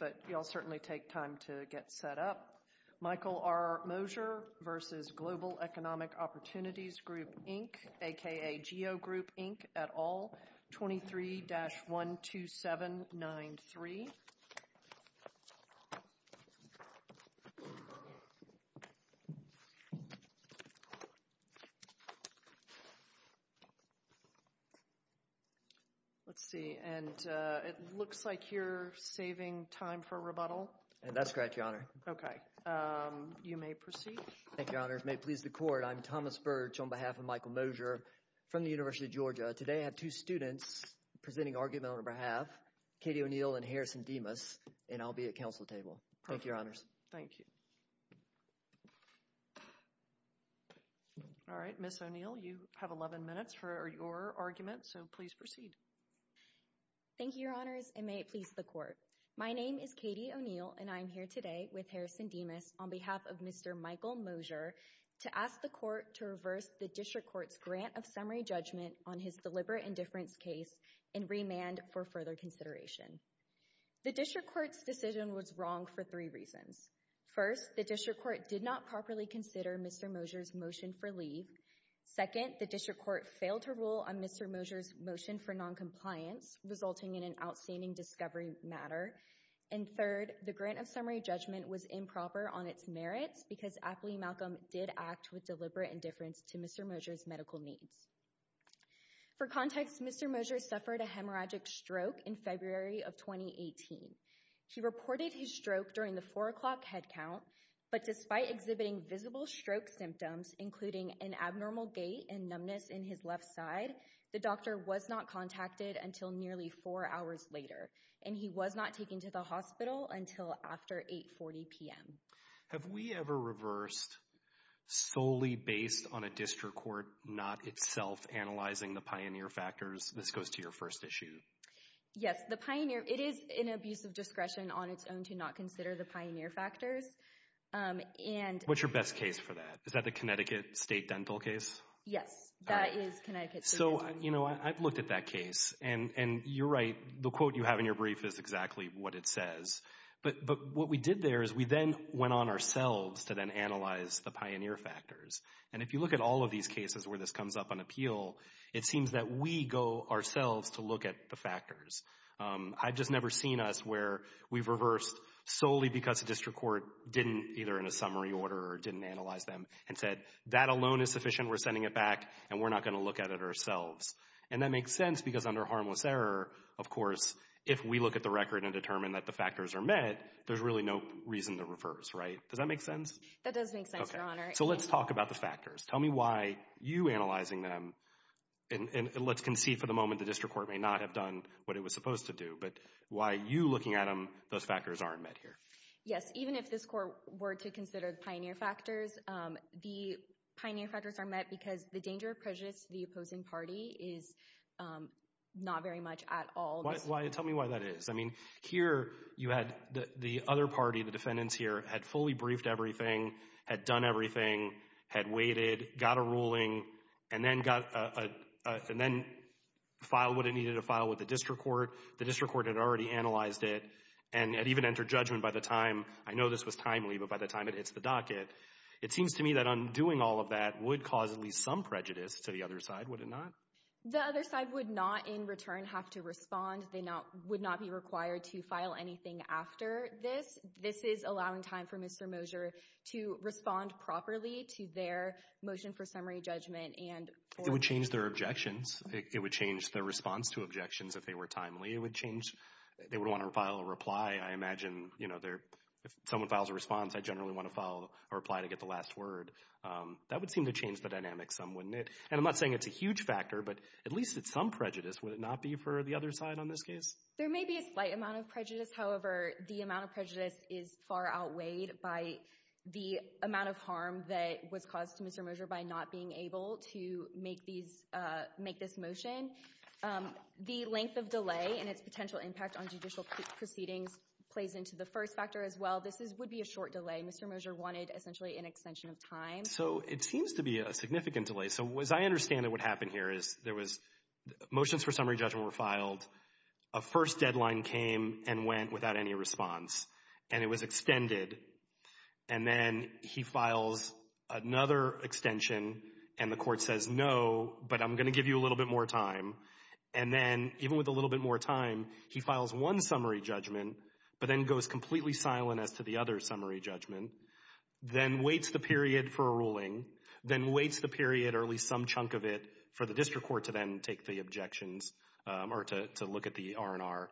but you'll certainly take time to get set up. Michael R. Mosier v. Global Economic Opportunities Group Inc. a.k.a. GEO Group Inc. et al. 23-12793. Let's see. And it looks like you're saving time for rebuttal. That's correct, Your Honor. Okay. You may proceed. Thank you, Your Honor. It may please the Court. I'm Thomas Birch on behalf of Michael Mosier from the University of Georgia. Today, I have two students presenting argument on behalf, Katie O'Neill and Harrison Demas, and I'll be at counsel table. Thank you, Your Honors. Thank you. All right. Ms. O'Neill, you have 11 minutes for your argument, so please proceed. Thank you, Your Honors, and may it please the Court. My name is Katie O'Neill, and I'm here today with Harrison Demas on behalf of Mr. Michael Mosier to ask the Court to reverse the district court's grant of summary judgment on his deliberate indifference case and remand for further consideration. The district court's decision was wrong for three reasons. First, the district court did not properly consider Mr. Mosier's motion for leave. Second, the district court failed to rule on Mr. Mosier's motion for noncompliance, resulting in an outstanding discovery matter. And third, the grant of summary judgment was improper on its merits because Apley Malcolm did act with deliberate indifference to Mr. Mosier's medical needs. For context, Mr. Mosier suffered a hemorrhagic stroke in February of 2018. He reported his stroke during the 4 o'clock head count, but despite exhibiting visible stroke symptoms, including an abnormal gait and numbness in his left side, the doctor was not contacted until nearly four hours later, and he was not taken to the hospital until after 8.40 p.m. Have we ever reversed solely based on a district court not itself analyzing the pioneer factors? This goes to your first issue. Yes, the pioneer—it is an abuse of discretion on its own to not consider the pioneer factors, and— What's your best case for that? Is that the Connecticut State Dental case? Yes, that is Connecticut State Dental. So, you know, I've looked at that case, and you're right. The quote you have in your brief is exactly what it says. But what we did there is we then went on ourselves to then analyze the pioneer factors. And if you look at all of these cases where this comes up on appeal, it seems that we go ourselves to look at the factors. I've just never seen us where we've reversed solely because a district court didn't, either in a summary order or didn't analyze them, and said, that alone is sufficient, we're sending it back, and we're not going to look at it ourselves. And that makes sense because under harmless error, of course, if we look at the record and determine that the factors are met, there's really no reason to reverse, right? Does that make sense? That does make sense, Your Honor. So let's talk about the factors. Tell me why you analyzing them— and let's concede for the moment the district court may not have done what it was supposed to do, but why you looking at them, those factors aren't met here. Yes, even if this court were to consider the pioneer factors, the pioneer factors are met because the danger of prejudice to the opposing party is not very much at all— Why—tell me why that is. I mean, here you had the other party, the defendants here, had fully briefed everything, had done everything, had waited, got a ruling, and then got a— and then filed what it needed to file with the district court. The district court had already analyzed it and had even entered judgment by the time— I know this was timely, but by the time it hits the docket, it seems to me that undoing all of that would cause at least some prejudice to the other side, would it not? The other side would not, in return, have to respond. They would not be required to file anything after this. This is allowing time for Mr. Mosier to respond properly to their motion for summary judgment and— It would change their objections. It would change their response to objections if they were timely. It would change—they would want to file a reply. I imagine, you know, if someone files a response, I generally want to file a reply to get the last word. That would seem to change the dynamics some, wouldn't it? And I'm not saying it's a huge factor, but at least it's some prejudice. Would it not be for the other side on this case? There may be a slight amount of prejudice. However, the amount of prejudice is far outweighed by the amount of harm that was caused to Mr. Mosier by not being able to make this motion. The length of delay and its potential impact on judicial proceedings plays into the first factor as well. This would be a short delay. Mr. Mosier wanted essentially an extension of time. So it seems to be a significant delay. So as I understand it, what happened here is there was—motions for summary judgment were filed. A first deadline came and went without any response, and it was extended. And then he files another extension, and the court says no, but I'm going to give you a little bit more time. And then, even with a little bit more time, he files one summary judgment, but then goes completely silent as to the other summary judgment, then waits the period for a ruling, then waits the period or at least some chunk of it for the district court to then take the objections or to look at the R&R,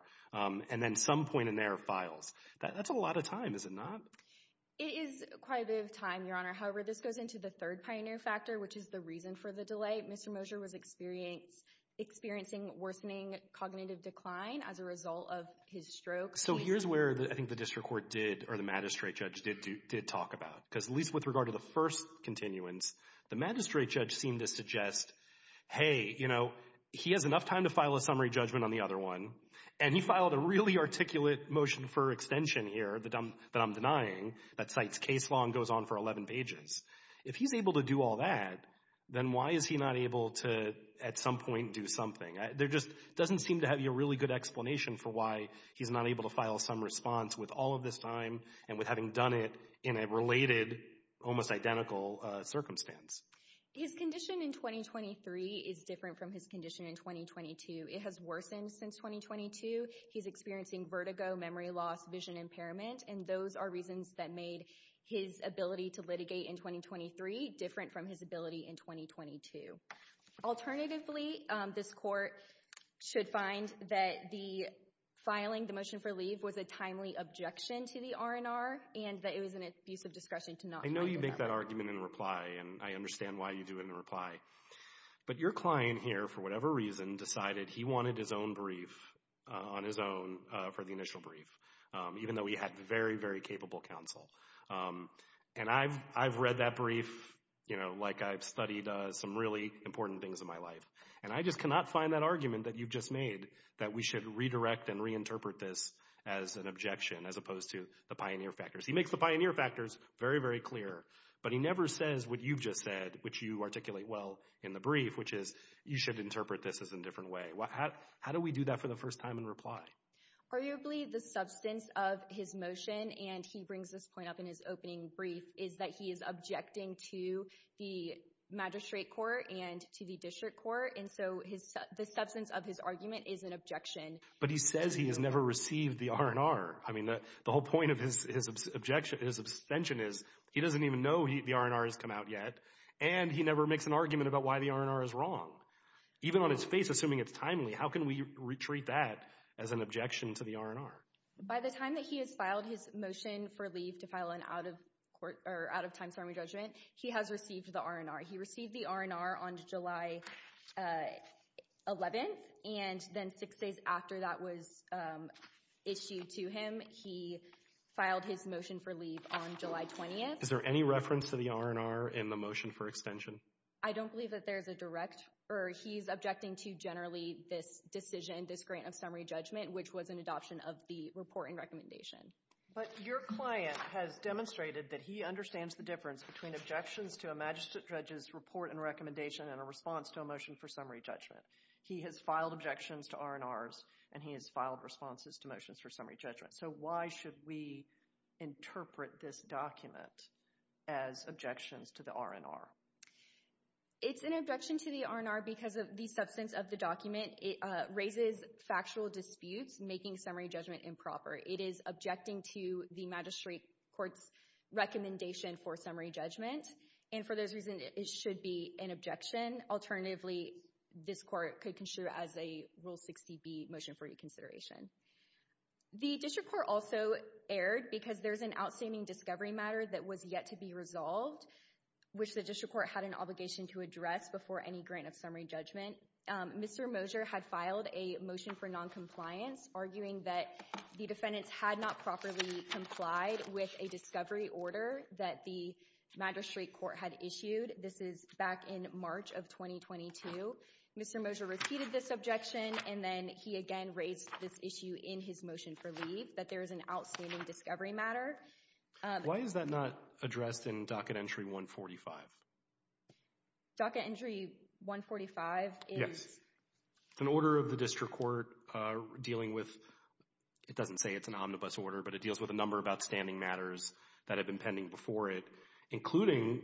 and then some point in there files. That's a lot of time, is it not? It is quite a bit of time, Your Honor. However, this goes into the third pioneer factor, which is the reason for the delay. Mr. Mosier was experiencing worsening cognitive decline as a result of his stroke. So here's where I think the district court did or the magistrate judge did talk about. Because at least with regard to the first continuance, the magistrate judge seemed to suggest, hey, you know, he has enough time to file a summary judgment on the other one, and he filed a really articulate motion for extension here that I'm denying that cites case law and goes on for 11 pages. If he's able to do all that, then why is he not able to at some point do something? There just doesn't seem to have a really good explanation for why he's not able to file some response with all of this time and with having done it in a related, almost identical circumstance. His condition in 2023 is different from his condition in 2022. It has worsened since 2022. He's experiencing vertigo, memory loss, vision impairment, and those are reasons that made his ability to litigate in 2023 different from his ability in 2022. Alternatively, this court should find that the filing the motion for leave was a timely objection to the R&R and that it was an abuse of discretion to not file that motion. I know you make that argument in reply, and I understand why you do it in reply. But your client here, for whatever reason, decided he wanted his own brief on his own for the initial brief, even though he had very, very capable counsel. And I've read that brief like I've studied some really important things in my life, and I just cannot find that argument that you've just made that we should redirect and reinterpret this as an objection as opposed to the pioneer factors. He makes the pioneer factors very, very clear, but he never says what you've just said, which you articulate well in the brief, which is you should interpret this as a different way. How do we do that for the first time in reply? Arguably, the substance of his motion, and he brings this point up in his opening brief, is that he is objecting to the magistrate court and to the district court. And so the substance of his argument is an objection. But he says he has never received the R&R. I mean, the whole point of his objection, his abstention is he doesn't even know the R&R has come out yet. And he never makes an argument about why the R&R is wrong. Even on his face, assuming it's timely, how can we retreat that as an objection to the R&R? By the time that he has filed his motion for leave to file an out-of-time summary judgment, he has received the R&R. He received the R&R on July 11, and then six days after that was issued to him, he filed his motion for leave on July 20. Is there any reference to the R&R in the motion for extension? I don't believe that there's a direct, or he's objecting to generally this decision, this grant of summary judgment, which was an adoption of the report and recommendation. But your client has demonstrated that he understands the difference between objections to a magistrate judge's report and recommendation and a response to a motion for summary judgment. He has filed objections to R&Rs, and he has filed responses to motions for summary judgment. So why should we interpret this document as objections to the R&R? It's an objection to the R&R because of the substance of the document. It raises factual disputes, making summary judgment improper. It is objecting to the magistrate court's recommendation for summary judgment. And for those reasons, it should be an objection. Alternatively, this court could consider it as a Rule 60B motion for reconsideration. The district court also erred because there's an outstanding discovery matter that was yet to be resolved, which the district court had an obligation to address before any grant of summary judgment. Mr. Moser had filed a motion for noncompliance, arguing that the defendants had not properly complied with a discovery order that the magistrate court had issued. This is back in March of 2022. Mr. Moser repeated this objection, and then he again raised this issue in his motion for leave, that there is an outstanding discovery matter. Why is that not addressed in Docket Entry 145? Docket Entry 145 is? An order of the district court dealing with, it doesn't say it's an omnibus order, but it deals with a number of outstanding matters that have been pending before it, including,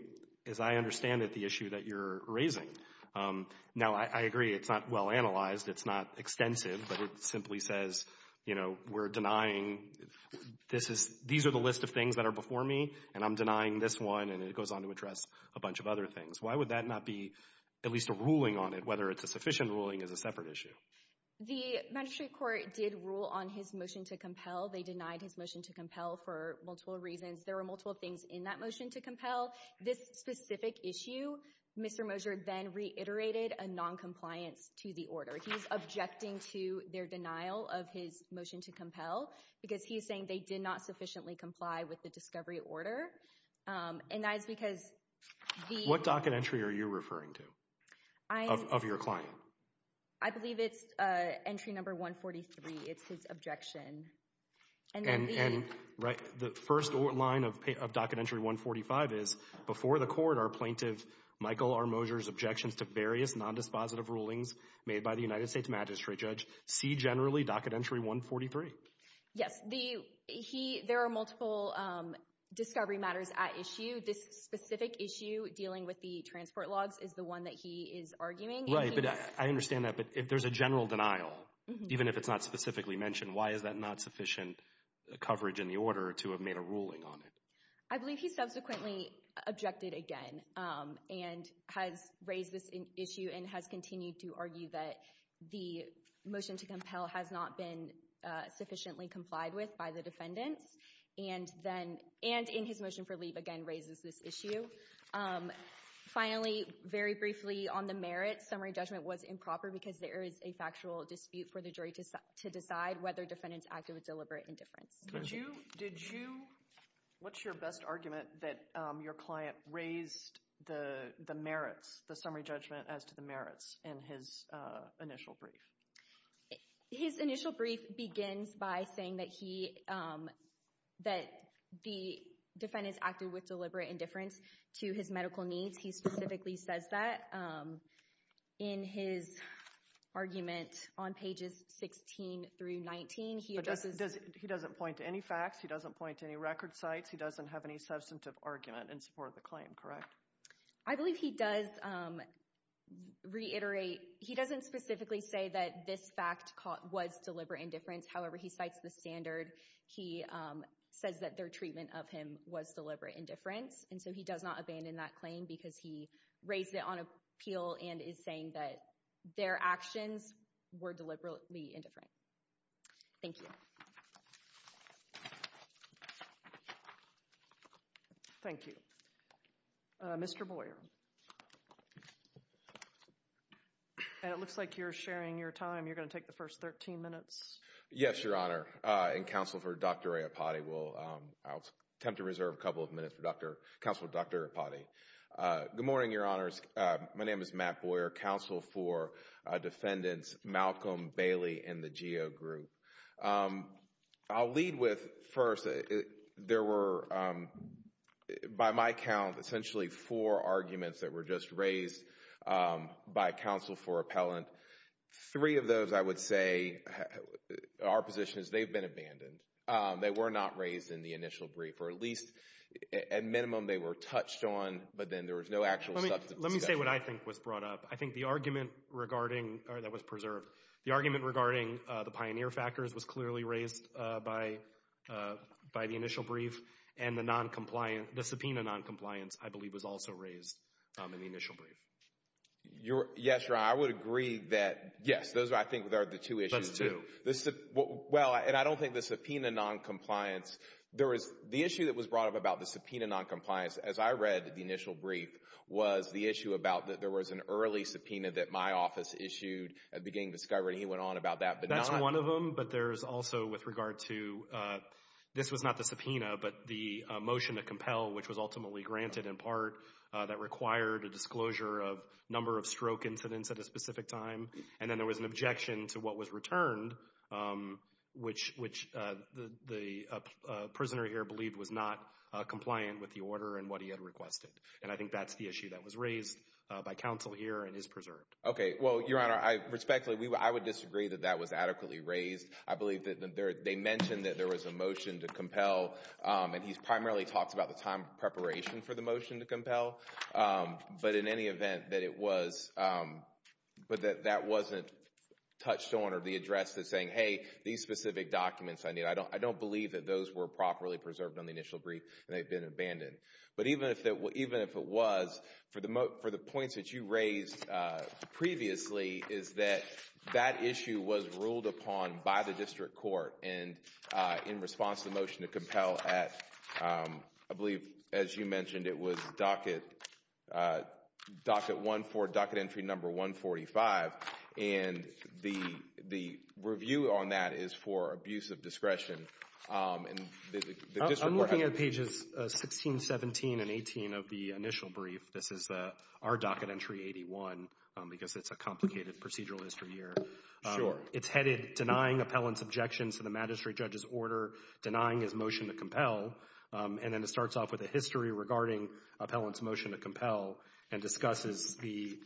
as I understand it, the issue that you're raising. Now, I agree, it's not well analyzed, it's not extensive, but it simply says, you know, we're denying, these are the list of things that are before me, and I'm denying this one, and it goes on to address a bunch of other things. Why would that not be at least a ruling on it, whether it's a sufficient ruling as a separate issue? The magistrate court did rule on his motion to compel. They denied his motion to compel for multiple reasons. There were multiple things in that motion to compel. This specific issue, Mr. Moser then reiterated a noncompliance to the order. He's objecting to their denial of his motion to compel, because he's saying they did not sufficiently comply with the discovery order. And that is because the— What docket entry are you referring to, of your client? I believe it's entry number 143, it's his objection. And the first line of docket entry 145 is, before the court are plaintiff Michael R. Moser's objections to various nondispositive rulings made by the United States magistrate judge, see generally docket entry 143. Yes, there are multiple discovery matters at issue. This specific issue dealing with the transport logs is the one that he is arguing. Right, but I understand that, but if there's a general denial, even if it's not specifically mentioned, why is that not sufficient coverage in the order to have made a ruling on it? I believe he subsequently objected again, and has raised this issue and has continued to argue that the motion to compel has not been sufficiently complied with by the defendants, and in his motion for leave again raises this issue. Finally, very briefly, on the merits, his summary judgment was improper because there is a factual dispute for the jury to decide whether defendants acted with deliberate indifference. Did you, what's your best argument that your client raised the merits, the summary judgment as to the merits in his initial brief? His initial brief begins by saying that he, that the defendants acted with deliberate indifference to his medical needs. He specifically says that in his argument on pages 16 through 19. He doesn't point to any facts, he doesn't point to any record sites, he doesn't have any substantive argument in support of the claim, correct? I believe he does reiterate, he doesn't specifically say that this fact was deliberate indifference. However, he cites the standard. He says that their treatment of him was deliberate indifference, and so he does not abandon that claim because he raised it on appeal and is saying that their actions were deliberately indifferent. Thank you. Thank you. Mr. Boyer. And it looks like you're sharing your time. You're going to take the first 13 minutes. Yes, Your Honor. Good morning, Your Honor. And counsel for Dr. Arepati, I'll attempt to reserve a couple of minutes for counsel Dr. Arepati. Good morning, Your Honors. My name is Matt Boyer, counsel for defendants Malcolm Bailey and the GEO group. I'll lead with, first, there were, by my count, essentially four arguments that were just raised by counsel for appellant. Three of those, I would say, are positions they've been abandoned. They were not raised in the initial brief, or at least at minimum they were touched on, but then there was no actual substantive discussion. Let me say what I think was brought up. I think the argument regarding, or that was preserved, the argument regarding the pioneer factors was clearly raised by the initial brief, and the subpoena noncompliance, I believe, was also raised in the initial brief. Yes, Your Honor. I would agree that, yes, those I think are the two issues. Those two. Well, and I don't think the subpoena noncompliance, the issue that was brought up about the subpoena noncompliance, as I read the initial brief, was the issue about that there was an early subpoena that my office issued at the beginning of discovery, and he went on about that. That's one of them, but there's also with regard to, this was not the subpoena, but the motion to compel, which was ultimately granted in part, that required a disclosure of number of stroke incidents at a specific time, and then there was an objection to what was returned, which the prisoner here believed was not compliant with the order and what he had requested, and I think that's the issue that was raised by counsel here and is preserved. Okay. Well, Your Honor, respectfully, I would disagree that that was adequately raised. I believe that they mentioned that there was a motion to compel, and he's primarily talked about the time preparation for the motion to compel, but in any event, that it was, but that that wasn't touched on or the address that's saying, hey, these specific documents I need, I don't believe that those were properly preserved on the initial brief and they've been abandoned, but even if it was, for the points that you raised previously is that that issue was ruled upon by the district court and in response to the motion to compel at, I believe, as you mentioned, it was docket one for docket entry number 145, and the review on that is for abuse of discretion. I'm looking at pages 16, 17, and 18 of the initial brief. This is our docket entry 81 because it's a complicated procedural history here. Sure. It's headed denying appellant's objections to the magistrate judge's order, denying his motion to compel, and then it starts off with a history regarding appellant's motion to compel and discusses the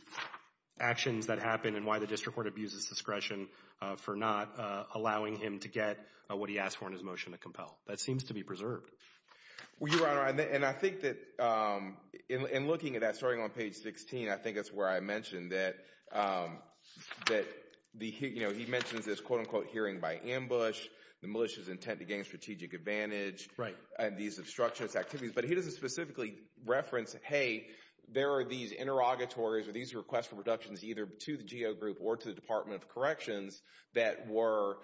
actions that happened and why the district court abused his discretion for not allowing him to get what he asked for in his motion to compel. That seems to be preserved. Well, Your Honor, and I think that in looking at that, starting on page 16, I think that's where I mentioned that he mentions this, quote-unquote, hearing by ambush, the militia's intent to gain strategic advantage, and these obstructionist activities, but he doesn't specifically reference, hey, there are these interrogatories or these requests for reductions either to the GO group or to the Department of Corrections that were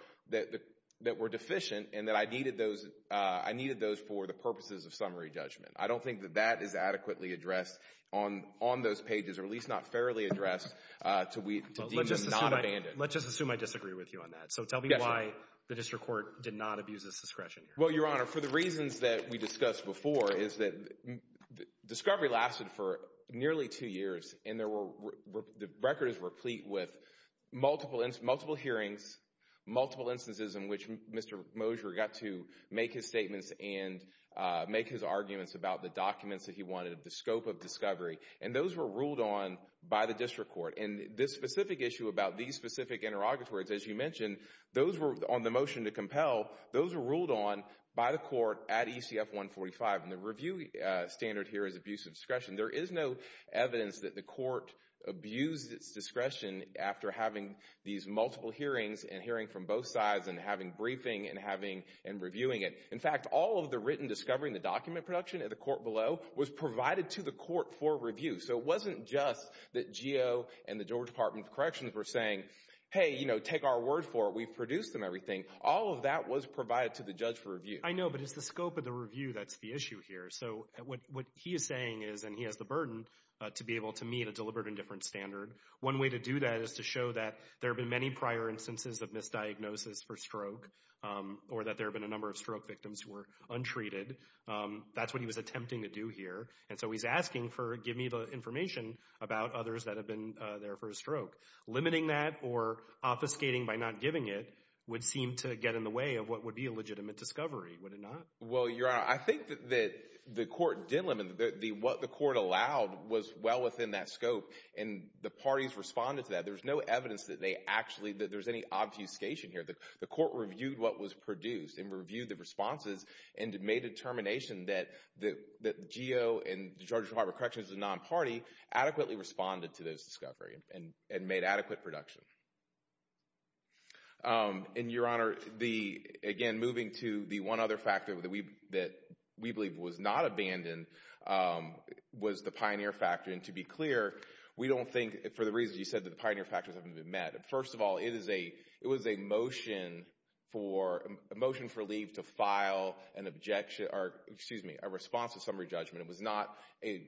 deficient and that I needed those for the purposes of summary judgment. I don't think that that is adequately addressed on those pages or at least not fairly addressed to deem him not abandoned. Let's just assume I disagree with you on that. So tell me why the district court did not abuse his discretion here. Well, Your Honor, for the reasons that we discussed before, is that discovery lasted for nearly two years, and the record is replete with multiple hearings, multiple instances in which Mr. Mosher got to make his statements and make his arguments about the documents that he wanted, the scope of discovery, and those were ruled on by the district court. And this specific issue about these specific interrogatories, as you mentioned, those were on the motion to compel, those were ruled on by the court at ECF 145, and the review standard here is abuse of discretion. There is no evidence that the court abused its discretion after having these multiple hearings and hearing from both sides and having briefing and reviewing it. In fact, all of the written discovery in the document production at the court below was provided to the court for review. So it wasn't just that GEO and the Georgia Department of Corrections were saying, hey, you know, take our word for it, we've produced them, everything. All of that was provided to the judge for review. I know, but it's the scope of the review that's the issue here. So what he is saying is, and he has the burden to be able to meet a deliberate and different standard, one way to do that is to show that there have been many prior instances of misdiagnosis for stroke or that there have been a number of stroke victims who were untreated. That's what he was attempting to do here. And so he's asking for give me the information about others that have been there for a stroke. Limiting that or obfuscating by not giving it would seem to get in the way of what would be a legitimate discovery, would it not? Well, Your Honor, I think that the court did limit. What the court allowed was well within that scope, and the parties responded to that. There's no evidence that there's any obfuscation here. The court reviewed what was produced and reviewed the responses and made a determination that the GO and the Georgia Department of Corrections, the non-party, adequately responded to this discovery and made adequate production. And, Your Honor, again, moving to the one other factor that we believe was not abandoned was the pioneer factor. And to be clear, we don't think, for the reasons you said, that the pioneer factors haven't been met. First of all, it was a motion for leave to file an objection or, excuse me, a response to summary judgment. It was not an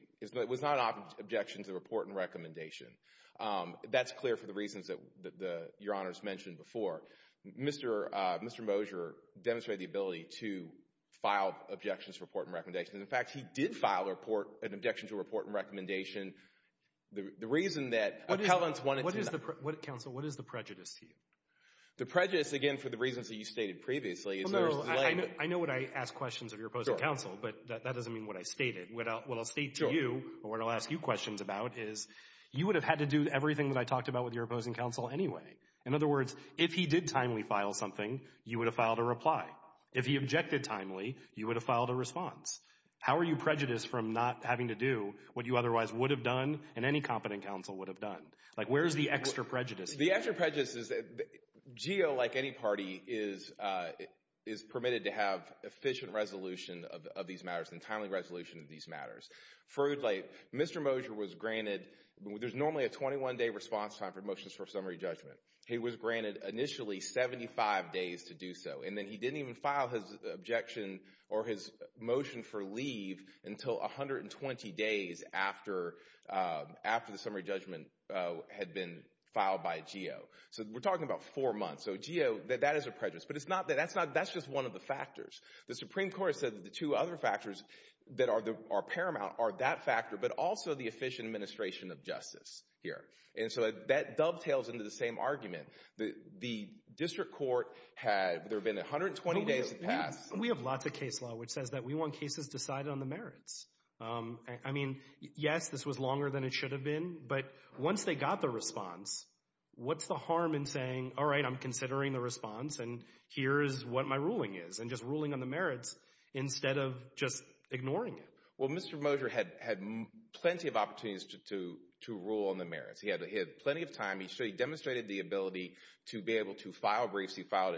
objection to the report and recommendation. That's clear for the reasons that Your Honor has mentioned before. Mr. Mosher demonstrated the ability to file objections to report and recommendations. In fact, he did file an objection to a report and recommendation. The reason that appellants wanted to do that. Counsel, what is the prejudice to you? The prejudice, again, for the reasons that you stated previously. I know what I ask questions of your opposing counsel, but that doesn't mean what I stated. What I'll state to you or what I'll ask you questions about is you would have had to do everything that I talked about with your opposing counsel anyway. In other words, if he did timely file something, you would have filed a reply. If he objected timely, you would have filed a response. How are you prejudiced from not having to do what you otherwise would have done and any competent counsel would have done? Where is the extra prejudice? The extra prejudice is that GEO, like any party, is permitted to have efficient resolution of these matters and timely resolution of these matters. Further, Mr. Mosher was granted, there's normally a 21-day response time for motions for summary judgment. He was granted initially 75 days to do so. And then he didn't even file his objection or his motion for leave until 120 days after the summary judgment had been filed by GEO. So we're talking about four months. So GEO, that is a prejudice. But that's just one of the factors. The Supreme Court has said that the two other factors that are paramount are that factor but also the efficient administration of justice here. And so that dovetails into the same argument. The district court had, there had been 120 days to pass. We have lots of case law which says that we want cases decided on the merits. I mean, yes, this was longer than it should have been. But once they got the response, what's the harm in saying, all right, I'm considering the response and here is what my ruling is and just ruling on the merits instead of just ignoring it. Well, Mr. Mosher had plenty of opportunities to rule on the merits. He had plenty of time. He demonstrated the ability to be able to file briefs. He filed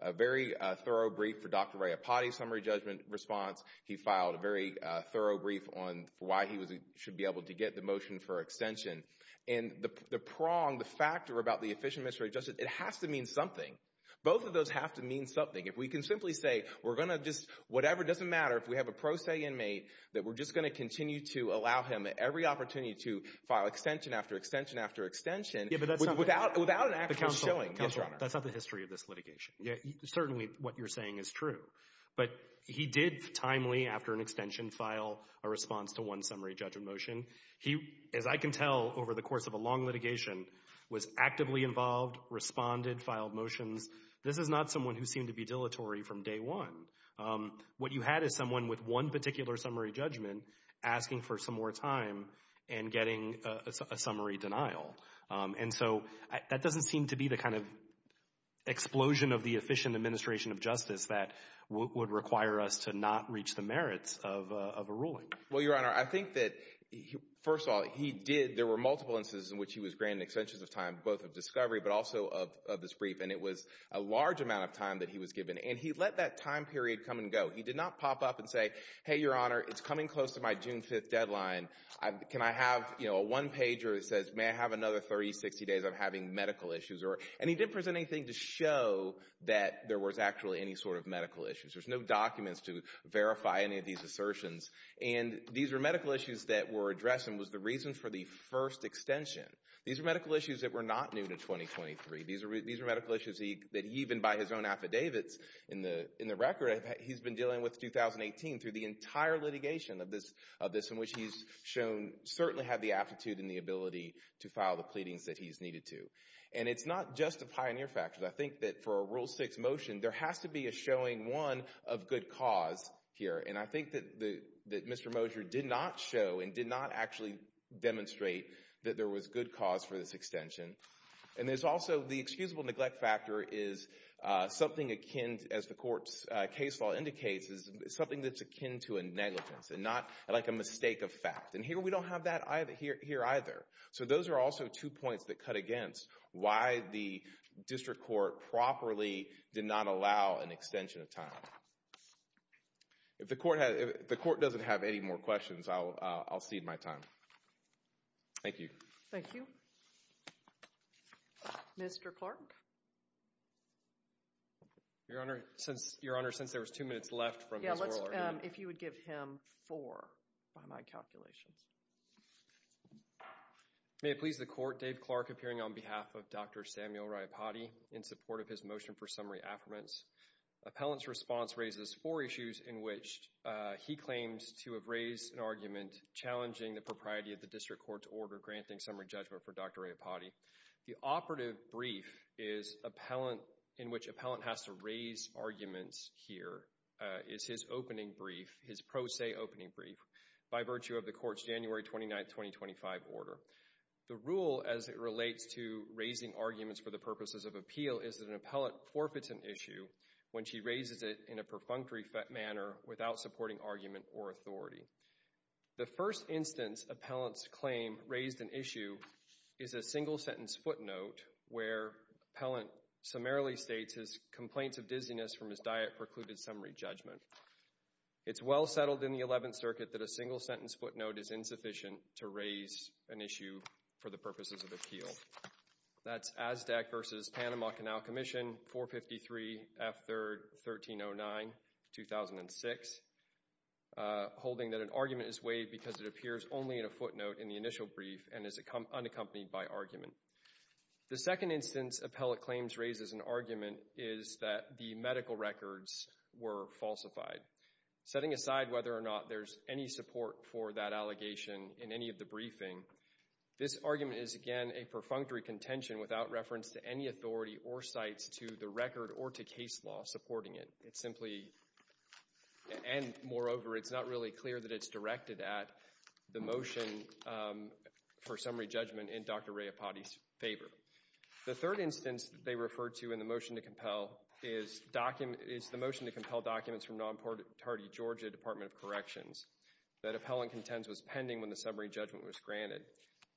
a very thorough brief for Dr. Rayapati's summary judgment response. He filed a very thorough brief on why he should be able to get the motion for extension. And the prong, the factor about the efficient administration of justice, it has to mean something. Both of those have to mean something. If we can simply say we're going to just, whatever, it doesn't matter. If we have a pro se inmate that we're just going to continue to allow him every opportunity to file extension after extension after extension without an actual showing. That's not the history of this litigation. Certainly what you're saying is true. But he did timely, after an extension, file a response to one summary judgment motion. He, as I can tell over the course of a long litigation, was actively involved, responded, filed motions. This is not someone who seemed to be dilatory from day one. What you had is someone with one particular summary judgment asking for some more time and getting a summary denial. And so that doesn't seem to be the kind of explosion of the efficient administration of justice that would require us to not reach the merits of a ruling. Well, Your Honor, I think that, first of all, he did. There were multiple instances in which he was granted extensions of time, both of discovery but also of this brief. And it was a large amount of time that he was given. And he let that time period come and go. He did not pop up and say, Hey, Your Honor, it's coming close to my June 5th deadline. Can I have a one-pager that says may I have another 30, 60 days of having medical issues? And he didn't present anything to show that there was actually any sort of medical issues. There's no documents to verify any of these assertions. And these were medical issues that were addressed and was the reason for the first extension. These were medical issues that were not new to 2023. These were medical issues that even by his own affidavits in the record, he's been dealing with 2018 through the entire litigation of this in which he's shown certainly had the aptitude and the ability to file the pleadings that he's needed to. And it's not just a pioneer factor. I think that for a Rule 6 motion, there has to be a showing, one, of good cause here. And I think that Mr. Mosher did not show and did not actually demonstrate that there was good cause for this extension. And there's also the excusable neglect factor is something akin, as the court's case law indicates, is something that's akin to a negligence and not like a mistake of fact. And here we don't have that here either. So those are also two points that cut against why the district court properly did not allow an extension of time. If the court doesn't have any more questions, I'll cede my time. Thank you. Thank you. Mr. Clark. Your Honor, since there was two minutes left from his oral argument. Yeah, if you would give him four by my calculations. May it please the court, Dave Clark appearing on behalf of Dr. Samuel Raiapati in support of his motion for summary affirmance. Appellant's response raises four issues in which he claims to have raised an argument challenging the propriety of the district court's order granting summary judgment for Dr. Raiapati. The operative brief in which appellant has to raise arguments here is his opening brief, his pro se opening brief by virtue of the court's January 29, 2025 order. The rule as it relates to raising arguments for the purposes of appeal is that an appellant forfeits an issue when she raises it in a perfunctory manner without supporting argument or authority. The first instance appellant's claim raised an issue is a single sentence footnote where appellant summarily states his complaints of dizziness from his diet precluded summary judgment. It's well settled in the 11th Circuit that a single sentence footnote is insufficient to raise an issue for the purposes of appeal. That's ASDAC versus Panama Canal Commission, 453 F. 3rd, 1309, 2006, holding that an argument is waived because it appears only in a footnote in the initial brief and is unaccompanied by argument. The second instance appellant claims raises an argument is that the medical records were falsified. Setting aside whether or not there's any support for that allegation in any of the briefing, this argument is, again, a perfunctory contention without reference to any authority or sites to the record or to case law supporting it. It's simply, and moreover, it's not really clear that it's directed at the motion for summary judgment in Dr. Rayapati's favor. The third instance they refer to in the motion to compel is the motion to compel documents from nonparty Georgia Department of Corrections that appellant contends was pending when the summary judgment was granted.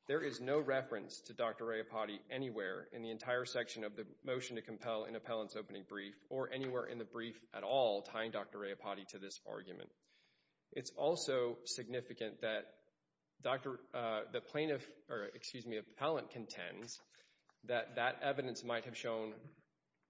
There is no reference to Dr. Rayapati anywhere in the entire section of the motion to compel in appellant's opening brief or anywhere in the brief at all tying Dr. Rayapati to this argument. It's also significant that the plaintiff, or excuse me, appellant contends that that evidence might have shown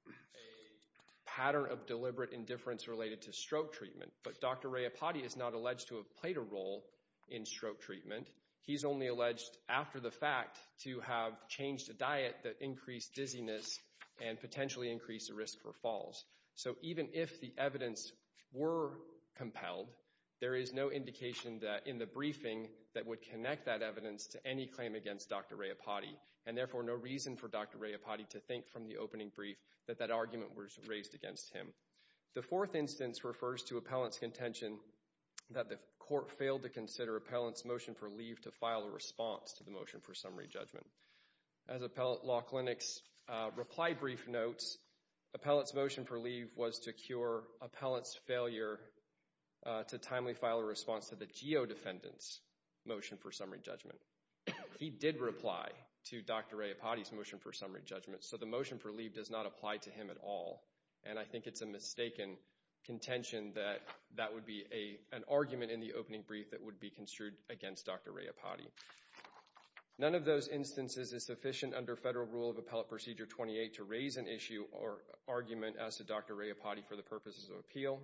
a pattern of deliberate indifference related to stroke treatment. But Dr. Rayapati is not alleged to have played a role in stroke treatment. He's only alleged after the fact to have changed a diet that increased dizziness and potentially increased the risk for falls. So even if the evidence were compelled, there is no indication that in the briefing that would connect that evidence to any claim against Dr. Rayapati and therefore no reason for Dr. Rayapati to think from the opening brief that that argument was raised against him. The fourth instance refers to appellant's contention that the court failed to consider appellant's motion for leave to file a response to the motion for summary judgment. As Appellant Law Clinic's reply brief notes, appellant's motion for leave was to cure appellant's failure to timely file a response to the geodefendant's motion for summary judgment. He did reply to Dr. Rayapati's motion for summary judgment, so the motion for leave does not apply to him at all. And I think it's a mistaken contention that that would be an argument in the opening brief that would be construed against Dr. Rayapati. None of those instances is sufficient under Federal Rule of Appellant Procedure 28 to raise an issue or argument as to Dr. Rayapati for the purposes of appeal.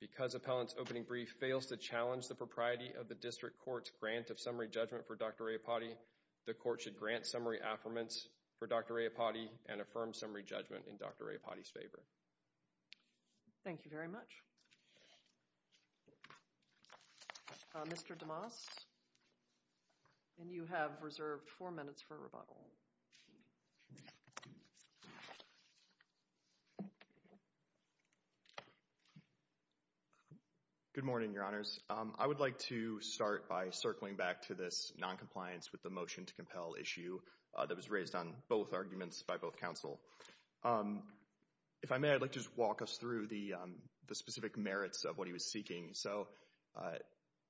Because appellant's opening brief fails to challenge the propriety of the district court's grant of summary judgment for Dr. Rayapati, the court should grant summary affirmance for Dr. Rayapati and affirm summary judgment in Dr. Rayapati's favor. Thank you very much. Mr. DeMoss, you have reserved four minutes for rebuttal. Good morning, Your Honors. I would like to start by circling back to this noncompliance with the motion to compel issue that was raised on both arguments by both counsel. If I may, I'd like to just walk us through the specific merits of what he was seeking. So,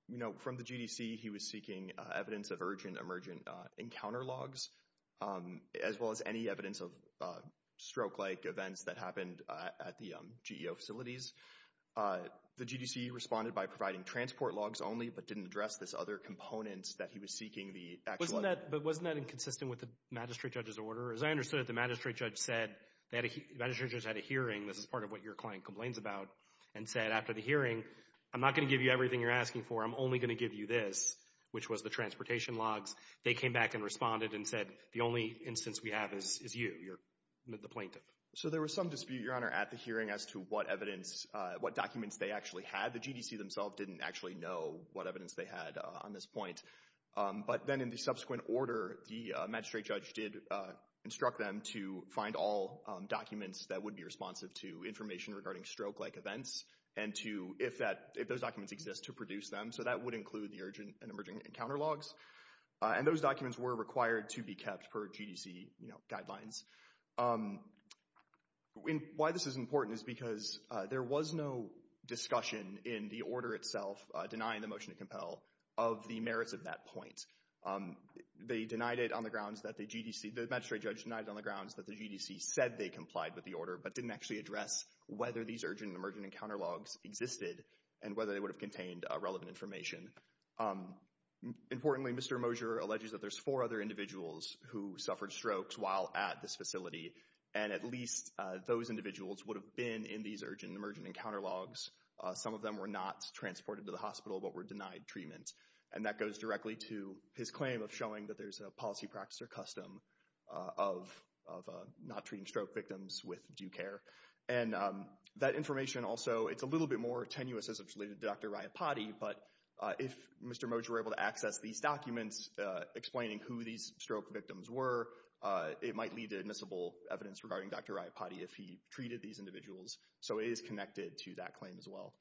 you know, from the GDC, he was seeking evidence of urgent emergent encounter logs, as well as any evidence of stroke-like events that happened at the GEO facilities. The GDC responded by providing transport logs only, but didn't address this other component that he was seeking. But wasn't that inconsistent with the magistrate judge's order? As I understood it, the magistrate judge said they had a hearing, this is part of what your client complains about, and said after the hearing, I'm not going to give you everything you're asking for, I'm only going to give you this, which was the transportation logs. They came back and responded and said the only instance we have is you, the plaintiff. So there was some dispute, Your Honor, at the hearing as to what evidence, what documents they actually had. The GDC themselves didn't actually know what evidence they had on this point. But then in the subsequent order, the magistrate judge did instruct them to find all documents that would be responsive to information regarding stroke-like events, and to, if those documents exist, to produce them. So that would include the urgent and emerging encounter logs. And those documents were required to be kept per GDC guidelines. Why this is important is because there was no discussion in the order itself denying the motion to compel of the merits of that point. They denied it on the grounds that the GDC, the magistrate judge denied it on the grounds that the GDC said they complied with the order, but didn't actually address whether these urgent and emerging encounter logs existed and whether they would have contained relevant information. Importantly, Mr. Mosier alleges that there's four other individuals who suffered strokes while at this facility, and at least those individuals would have been in these urgent and emerging encounter logs. Some of them were not transported to the hospital, but were denied treatment. And that goes directly to his claim of showing that there's a policy, practice, or custom of not treating stroke victims with due care. And that information also, it's a little bit more tenuous as it's related to Dr. Rayapati, but if Mr. Mosier were able to access these documents explaining who these stroke victims were, it might lead to admissible evidence regarding Dr. Rayapati if he treated these individuals. So it is connected to that claim as well.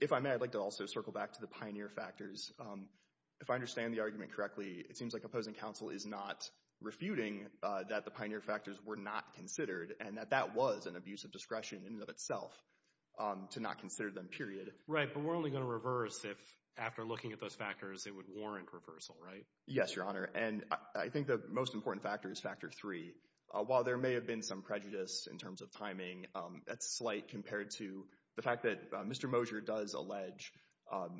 If I may, I'd like to also circle back to the pioneer factors. If I understand the argument correctly, it seems like opposing counsel is not refuting that the pioneer factors were not considered and that that was an abuse of discretion in and of itself to not consider them, period. Right, but we're only going to reverse if, after looking at those factors, it would warrant reversal, right? Yes, Your Honor, and I think the most important factor is factor three. While there may have been some prejudice in terms of timing, that's slight compared to the fact that Mr. Mosier does allege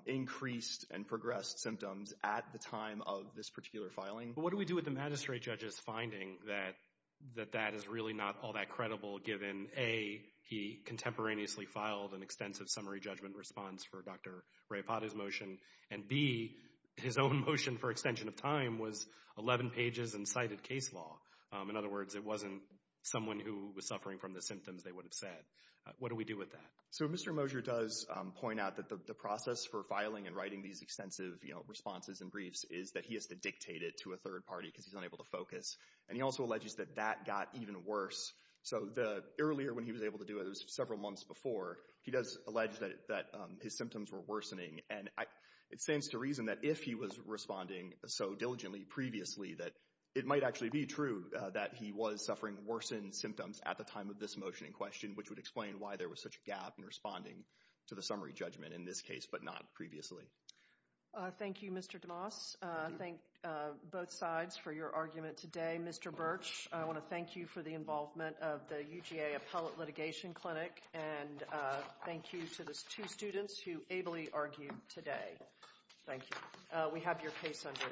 increased and progressed symptoms at the time of this particular filing. What do we do with the magistrate judge's finding that that is really not all that credible given, A, he contemporaneously filed an extensive summary judgment response for Dr. Rayapati's motion, and B, his own motion for extension of time was 11 pages and cited case law. In other words, it wasn't someone who was suffering from the symptoms they would have said. What do we do with that? So Mr. Mosier does point out that the process for filing and writing these extensive responses and briefs is that he has to dictate it to a third party because he's unable to focus, and he also alleges that that got even worse. So earlier when he was able to do it, it was several months before, he does allege that his symptoms were worsening, and it stands to reason that if he was responding so diligently previously that it might actually be true that he was suffering worsened symptoms at the time of this motion in question, which would explain why there was such a gap in responding to the summary judgment in this case but not previously. Thank you, Mr. DeMoss. I thank both sides for your argument today. Mr. Birch, I want to thank you for the involvement of the UGA Appellate Litigation Clinic, and thank you to these two students who ably argued today. Thank you. We have your case under advice.